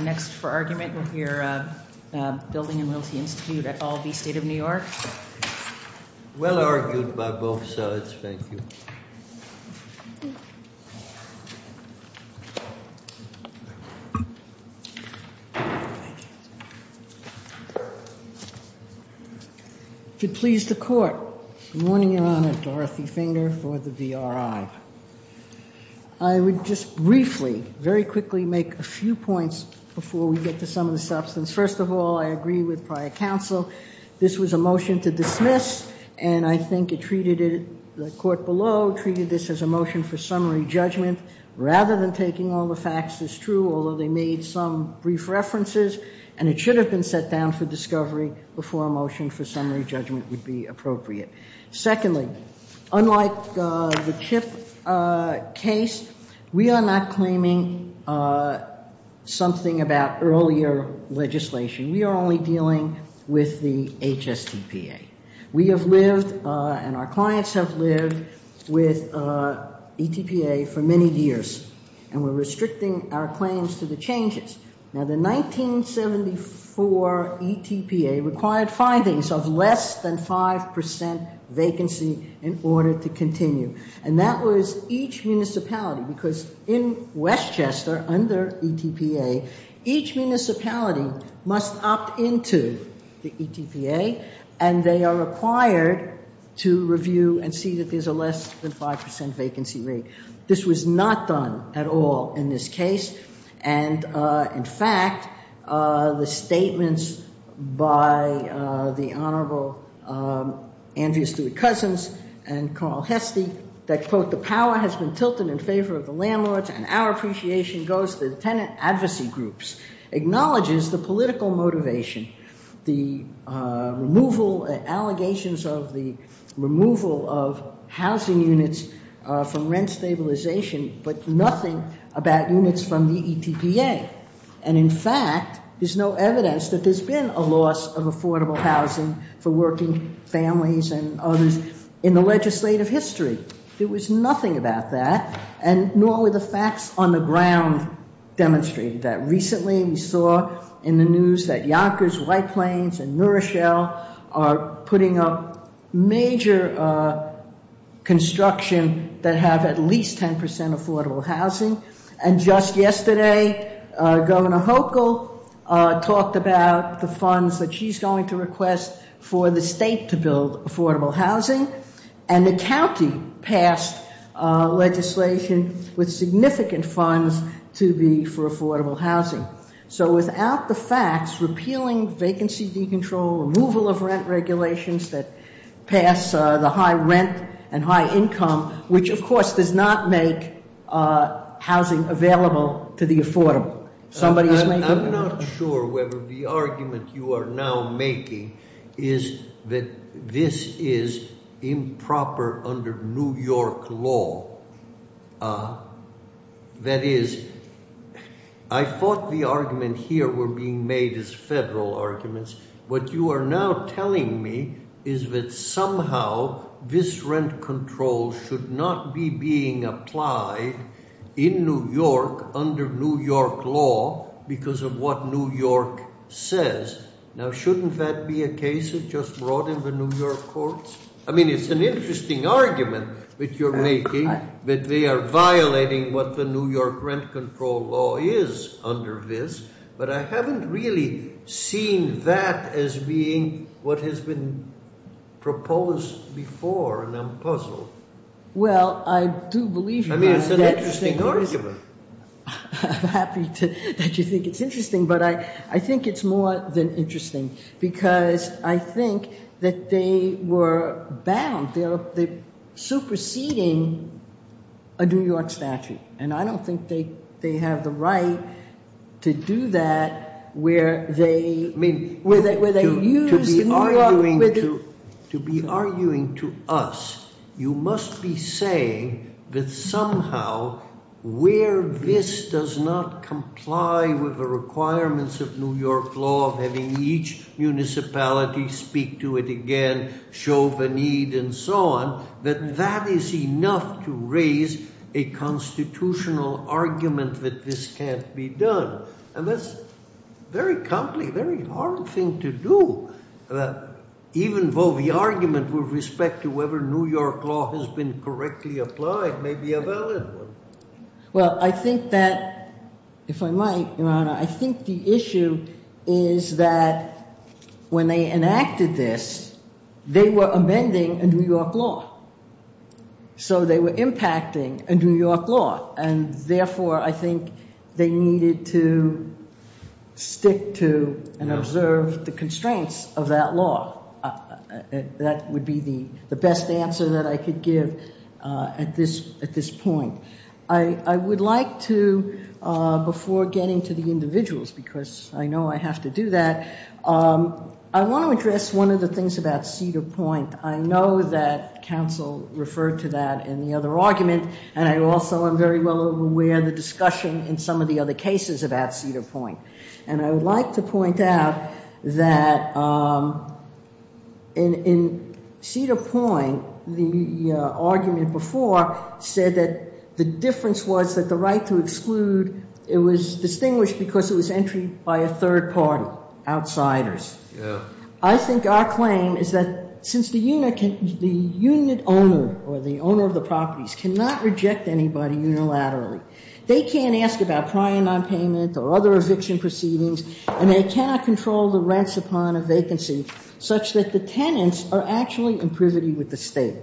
Next for argument, we'll hear Building and Realty Institute at all v. State of New York. Well argued by both sides. Thank you. If you please the court. Good morning, Your Honor. Dorothy Finger for the VRI. I would just briefly, very quickly make a few points before we get to some of the substance. First of all, I agree with prior counsel. This was a motion to dismiss, and I think it treated it, the court below treated this as a motion for summary judgment rather than taking all the facts as true, although they made some brief references, and it should have been set down for discovery before a motion for summary judgment would be appropriate. Secondly, unlike the CHIP case, we are not claiming something about earlier legislation. We are only dealing with the HSTPA. We have lived and our clients have lived with ETPA for many years, and we're restricting our claims to the changes. Now, the 1974 ETPA required findings of less than 5% vacancy in order to continue, and that was each municipality, because in Westchester under ETPA, each municipality must opt into the ETPA, and they are required to review and see that there's a less than 5% vacancy rate. This was not done at all in this case, and in fact, the statements by the Honorable Andrew Stewart-Cousins and Carl Hestie that, quote, the power has been tilted in favor of the landlords, and our appreciation goes to the tenant advocacy groups, acknowledges the political motivation, the removal, allegations of the removal of housing units from rent stabilization, but nothing about units from the ETPA, and in fact, there's no evidence that there's been a loss of affordable housing for working families and others in the legislative history. There was nothing about that, and nor were the facts on the ground demonstrating that. Recently, we saw in the news that Yonkers, White Plains, and Nourishell are putting up major construction that have at least 10% affordable housing, and just yesterday, Governor Hochul talked about the funds that she's going to request for the state to build affordable housing, and the county passed legislation with significant funds to be for affordable housing. So without the facts, repealing vacancy decontrol, removal of rent regulations that pass the high rent and high income, which of course does not make housing available to the affordable. I'm not sure whether the argument you are now making is that this is improper under New York law. That is, I thought the argument here were being made as federal arguments. What you are now telling me is that somehow this rent control should not be being applied in New York under New York law because of what New York says. Now, shouldn't that be a case that just brought in the New York courts? I mean, it's an interesting argument that you're making that they are violating what the New York rent control law is under this, but I haven't really seen that as being what has been proposed before, and I'm puzzled. Well, I do believe you. I mean, it's an interesting argument. I'm happy that you think it's interesting, but I think it's more than interesting because I think that they were bound, they're superseding a New York statute, and I don't think they have the right to do that where they use the New York. To be arguing to us, you must be saying that somehow where this does not comply with the requirements of New York law of having each municipality speak to it again, show the need and so on, that that is enough to raise a constitutional argument that this can't be done. And that's a very hard thing to do. Even though the argument with respect to whether New York law has been correctly applied may be a valid one. Well, I think that, if I might, Your Honor, I think the issue is that when they enacted this, they were amending a New York law. So they were impacting a New York law, and therefore I think they needed to stick to and observe the constraints of that law. That would be the best answer that I could give at this point. I would like to, before getting to the individuals, because I know I have to do that, I want to address one of the things about Cedar Point. I know that counsel referred to that in the other argument, and I also am very well aware of the discussion in some of the other cases about Cedar Point. And I would like to point out that in Cedar Point, the argument before said that the difference was that the right to exclude, it was distinguished because it was entry by a third party, outsiders. I think our claim is that since the unit owner or the owner of the properties cannot reject anybody unilaterally, they can't ask about prior nonpayment or other eviction proceedings, and they cannot control the rents upon a vacancy such that the tenants are actually in privity with the state.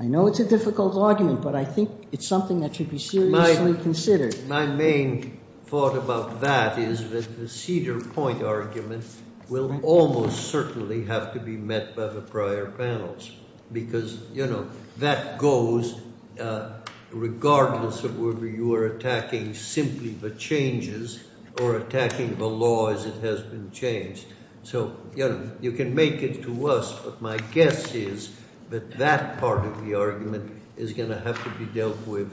I know it's a difficult argument, but I think it's something that should be seriously considered. My main thought about that is that the Cedar Point argument will almost certainly have to be met by the prior panels, because, you know, that goes regardless of whether you are attacking simply the changes or attacking the law as it has been changed. So, you know, you can make it to us, but my guess is that that part of the argument is going to have to be dealt with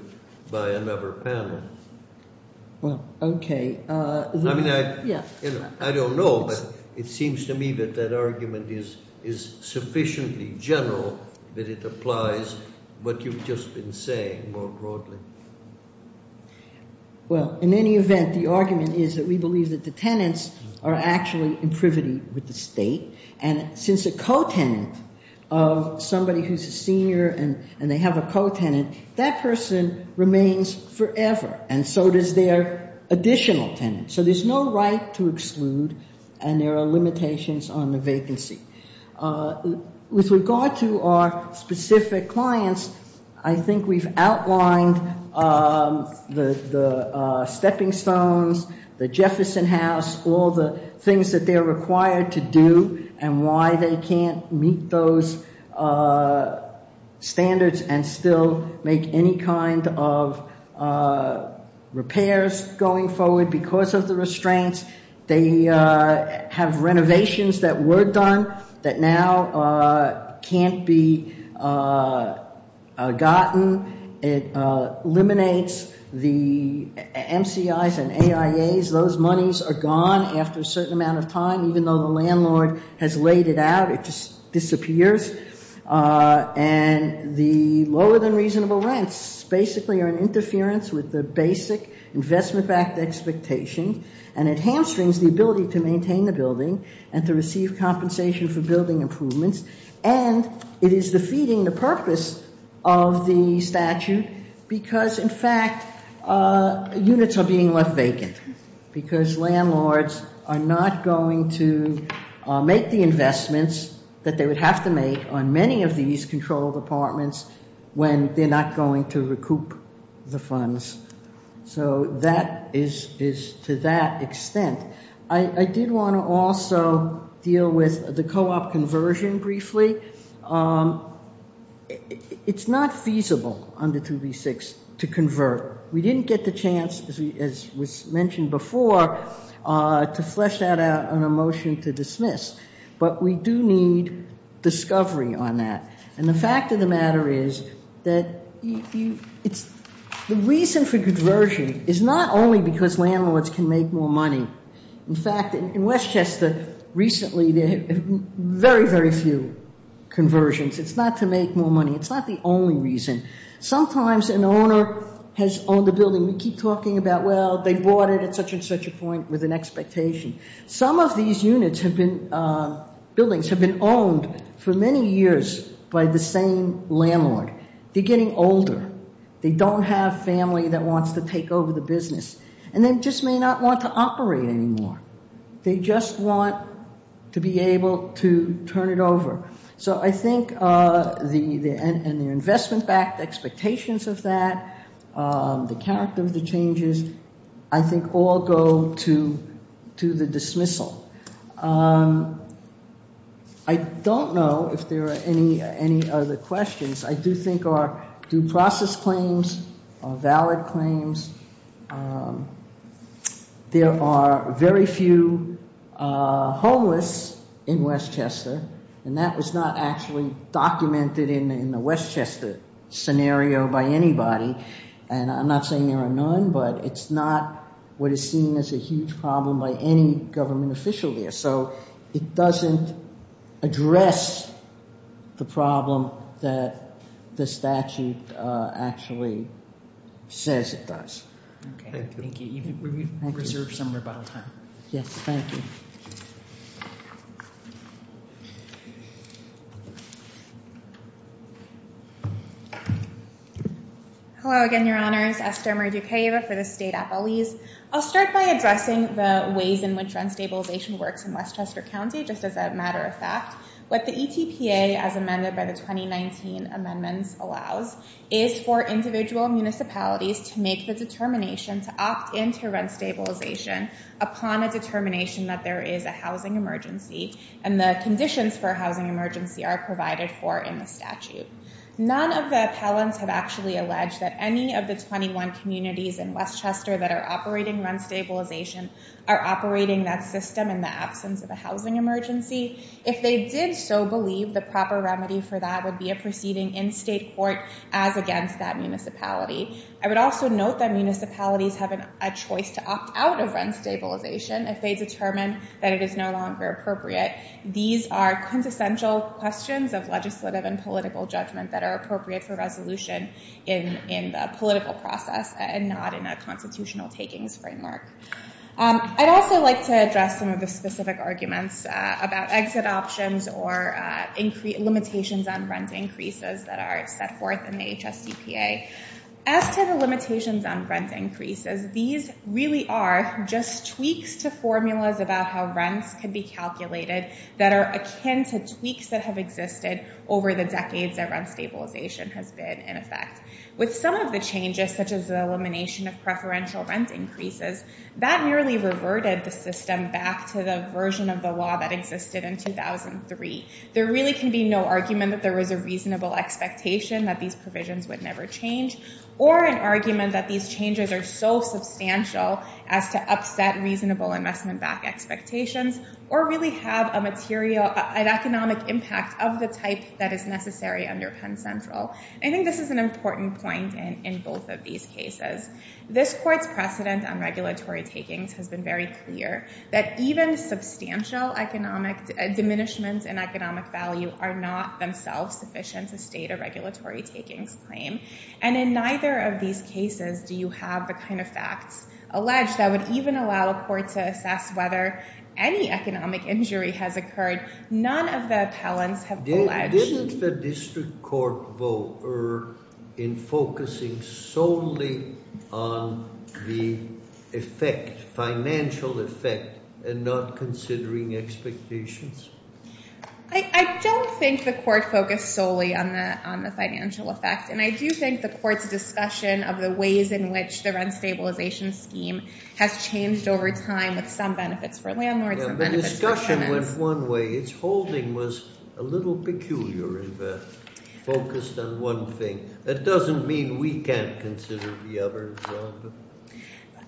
by another panel. Well, okay. I mean, I don't know, but it seems to me that that argument is sufficiently general that it applies what you've just been saying more broadly. Well, in any event, the argument is that we believe that the tenants are actually in privity with the state, and since a co-tenant of somebody who's a senior and they have a co-tenant, that person remains forever, and so does their additional tenant. So there's no right to exclude, and there are limitations on the vacancy. With regard to our specific clients, I think we've outlined the stepping stones, the Jefferson House, all the things that they're required to do and why they can't meet those standards and still make any kind of repairs going forward because of the restraints. They have renovations that were done that now can't be gotten. It eliminates the MCIs and AIAs. Those monies are gone after a certain amount of time, even though the landlord has laid it out. It just disappears, and the lower-than-reasonable rents basically are an interference with the basic Investment Act expectation, and it hamstrings the ability to maintain the building and to receive compensation for building improvements, and it is defeating the purpose of the statute because, in fact, units are being left vacant because landlords are not going to make the investments that they would have to make on many of these control departments when they're not going to recoup the funds. So that is to that extent. I did want to also deal with the co-op conversion briefly. It's not feasible under 2B6 to convert. We didn't get the chance, as was mentioned before, to flesh out a motion to dismiss, but we do need discovery on that, and the fact of the matter is that the reason for conversion is not only because landlords can make more money. In fact, in Westchester recently, there have been very, very few conversions. It's not to make more money. It's not the only reason. Sometimes an owner has owned a building. We keep talking about, well, they bought it at such and such a point with an expectation. Some of these buildings have been owned for many years by the same landlord. They're getting older. They don't have family that wants to take over the business, and they just may not want to operate anymore. They just want to be able to turn it over. So I think the investment-backed expectations of that, the character of the changes, I think all go to the dismissal. I don't know if there are any other questions. I do think our due process claims are valid claims. There are very few homeless in Westchester, and that was not actually documented in the Westchester scenario by anybody, and I'm not saying there are none, but it's not what is seen as a huge problem by any government official there. So it doesn't address the problem that the statute actually says it does. Thank you. We reserve some rebuttal time. Yes, thank you. Hello again, Your Honors. Esther Murduqueva for the State Appellees. I'll start by addressing the ways in which rent stabilization works in Westchester County, just as a matter of fact. What the ETPA, as amended by the 2019 amendments allows, is for individual municipalities to make the determination to opt in to rent stabilization upon a determination that they're in favor of. And the conditions for a housing emergency are provided for in the statute. None of the appellants have actually alleged that any of the 21 communities in Westchester that are operating rent stabilization are operating that system in the absence of a housing emergency. If they did so believe the proper remedy for that would be a proceeding in state court as against that municipality. I would also note that municipalities have a choice to opt out of rent stabilization if they determine that it is no longer appropriate. These are quintessential questions of legislative and political judgment that are appropriate for resolution in the political process and not in a constitutional takings framework. I'd also like to address some of the specific arguments about exit options or limitations on rent increases that are set forth in the HSDPA. As to the limitations on rent increases, these really are just tweaks to formulas about how rents can be calculated that are akin to tweaks that have existed over the decades that rent stabilization has been in effect. With some of the changes, such as the elimination of preferential rent increases, that nearly reverted the system back to the version of the law that existed in 2003. There really can be no argument that there was a reasonable expectation that these provisions would never change or an argument that these changes are so substantial as to upset reasonable investment back expectations or really have an economic impact of the type that is necessary under Penn Central. I think this is an important point in both of these cases. This court's precedent on regulatory takings has been very clear that even substantial diminishments in economic value are not themselves sufficient to negate a regulatory takings claim. And in neither of these cases do you have the kind of facts alleged that would even allow a court to assess whether any economic injury has occurred. None of the appellants have alleged. Didn't the district court vote in focusing solely on the effect, financial effect, and not considering expectations? I don't think the court focused solely on the financial effect. And I do think the court's discussion of the ways in which the rent stabilization scheme has changed over time with some benefits for landlords and benefits for tenants. The discussion went one way. Its holding was a little peculiar in that it focused on one thing. That doesn't mean we can't consider the other.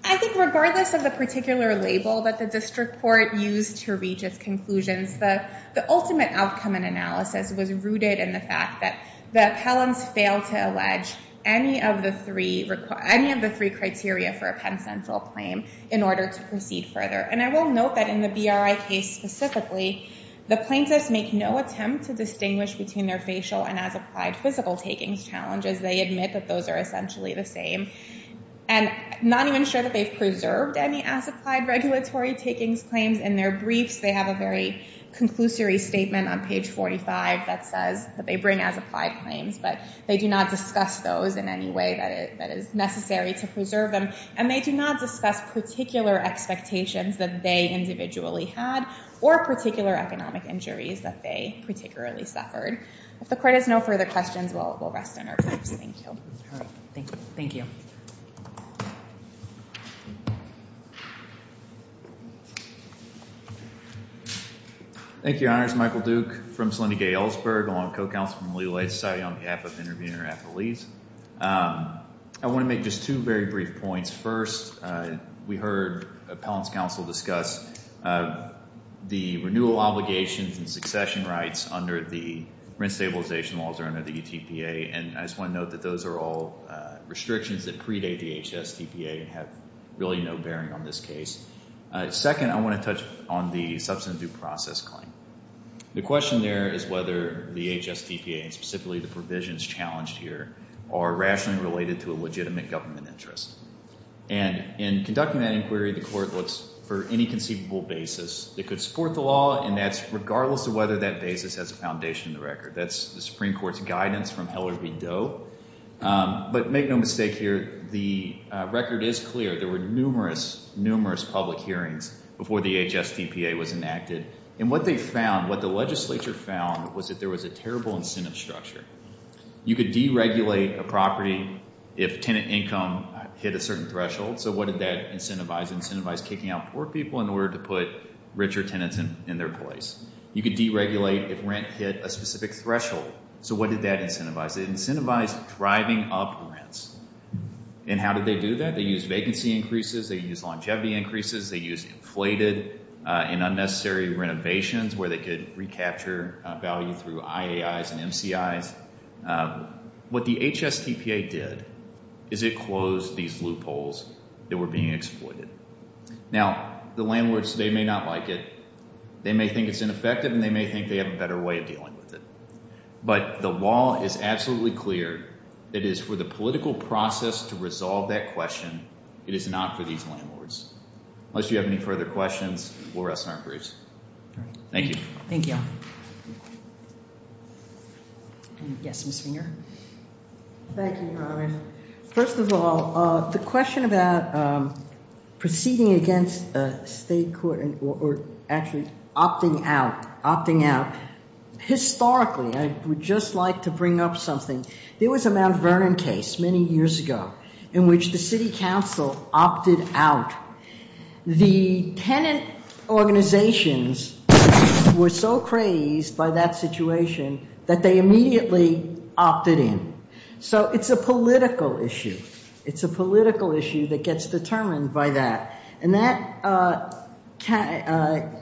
I think regardless of the particular label that the district court used to make its conclusions, the ultimate outcome in analysis was rooted in the fact that the appellants failed to allege any of the three criteria for a pen central claim in order to proceed further. And I will note that in the BRI case specifically, the plaintiffs make no attempt to distinguish between their facial and as applied physical takings challenges. They admit that those are essentially the same and not even sure that they've preserved any as applied regulatory takings claims in their briefs. They have a very conclusory statement on page 45 that says that they bring as applied claims. But they do not discuss those in any way that is necessary to preserve them. And they do not discuss particular expectations that they individually had or particular economic injuries that they particularly suffered. If the court has no further questions, we'll rest in our groups. Thank you. All right. Thank you. Thank you. Thank you, Your Honors. Michael Duke from Salina Gay Ellsberg along with co-counsel from the Legal Aid Society on behalf of the interviewer and her affiliates. I want to make just two very brief points. First, we heard appellants' counsel discuss the renewal obligations and succession rights under the rent stabilization laws or under the UTPA. And I just want to note that those are all restrictions that predate the HSTPA and have really no bearing on this case. Second, I want to touch on the substantive due process claim. The question there is whether the HSTPA, and specifically the provisions challenged here, are rationally related to a legitimate government interest. And in conducting that inquiry, the court looks for any conceivable basis that could support the law, and that's regardless of whether that basis has a foundation in the record. That's the Supreme Court's guidance from Heller v. Doe. But make no mistake here, the record is clear. There were numerous, numerous public hearings before the HSTPA was enacted. And what they found, what the legislature found, was that there was a terrible incentive structure. You could deregulate a property if tenant income hit a certain threshold. So what did that incentivize? It incentivized kicking out poor people in order to put richer tenants in their place. You could deregulate if rent hit a specific threshold. So what did that incentivize? It incentivized driving up rents. And how did they do that? They used vacancy increases. They used longevity increases. They used inflated and unnecessary renovations where they could recapture value through IAIs and MCIs. What the HSTPA did is it closed these loopholes that were being exploited. Now, the landlords, they may not like it. They may think it's ineffective, and they may think they have a better way of dealing with it. But the law is absolutely clear. It is for the political process to resolve that question. It is not for these landlords. Unless you have any further questions, we'll rest on our briefs. Thank you. Thank you. Yes, Ms. Finger? Thank you, Robert. First of all, the question about proceeding against a state court or actually opting out, opting out. Historically, I would just like to bring up something. There was a Mount Vernon case many years ago in which the city council opted out. The tenant organizations were so crazed by that situation that they immediately opted in. So it's a political issue. It's a political issue that gets determined by that. And that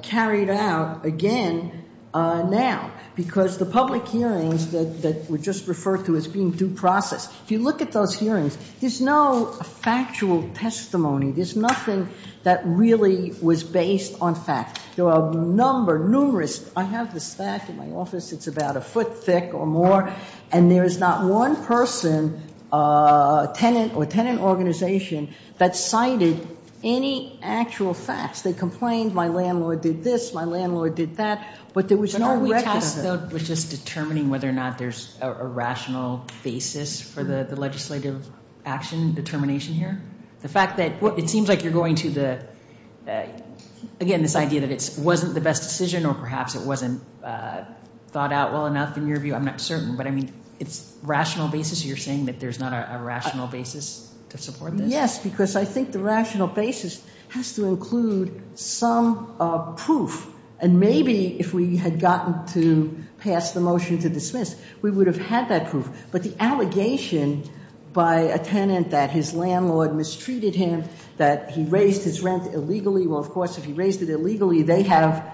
carried out again now because the public hearings that were just referred to as being due process, if you look at those hearings, there's no factual testimony. There's nothing that really was based on fact. There are a number, numerous. I have this fact in my office. It's about a foot thick or more, and there is not one person or tenant organization that cited any actual facts. They complained, my landlord did this, my landlord did that, but there was no record of it. But all we tested was just determining whether or not there's a rational basis for the legislative action determination here. The fact that it seems like you're going to the, again, this idea that it wasn't the best decision or perhaps it wasn't thought out well enough in your view. I'm not certain, but, I mean, it's rational basis. You're saying that there's not a rational basis to support this? Yes, because I think the rational basis has to include some proof. And maybe if we had gotten to pass the motion to dismiss, we would have had that proof. But the allegation by a tenant that his landlord mistreated him, that he raised his rent illegally, well, of course, if he raised it illegally, they have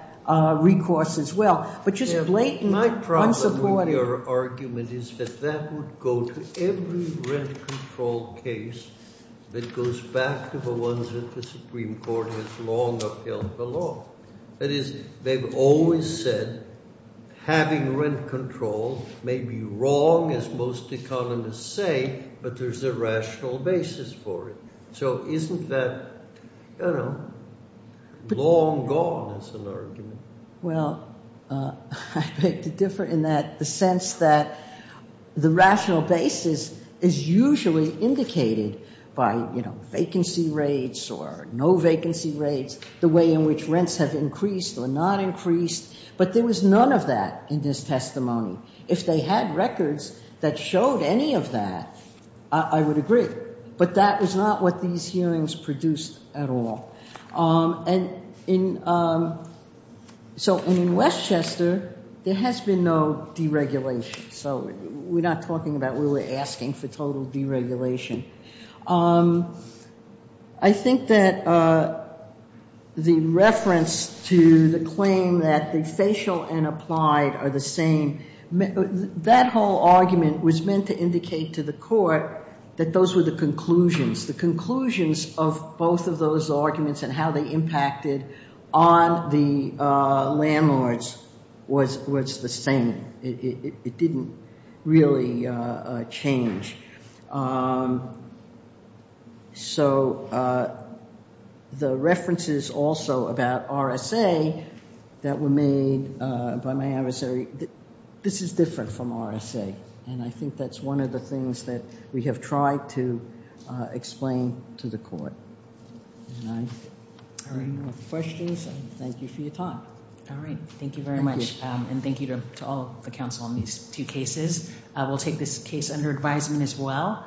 recourse as well. But just blatantly unsupportive. My problem with your argument is that that would go to every rent control case that goes back to the ones that the Supreme Court has long upheld the law. That is, they've always said having rent control may be wrong, as most economists say, but there's a rational basis for it. So isn't that, you know, long gone as an argument? Well, I beg to differ in the sense that the rational basis is usually indicated by, you know, vacancy rates or no vacancy rates, the way in which rents have increased or not increased. But there was none of that in this testimony. If they had records that showed any of that, I would agree. But that was not what these hearings produced at all. So in Westchester, there has been no deregulation. So we're not talking about we were asking for total deregulation. I think that the reference to the claim that the facial and applied are the same, that whole argument was meant to indicate to the court that those were the conclusions. The conclusions of both of those arguments and how they impacted on the landlords was the same. It didn't really change. So the references also about RSA that were made by my adversary, this is different from RSA. And I think that's one of the things that we have tried to explain to the court. All right. Any more questions? Thank you for your time. All right. Thank you very much. And thank you to all the counsel on these two cases. We'll take this case under advisement as well.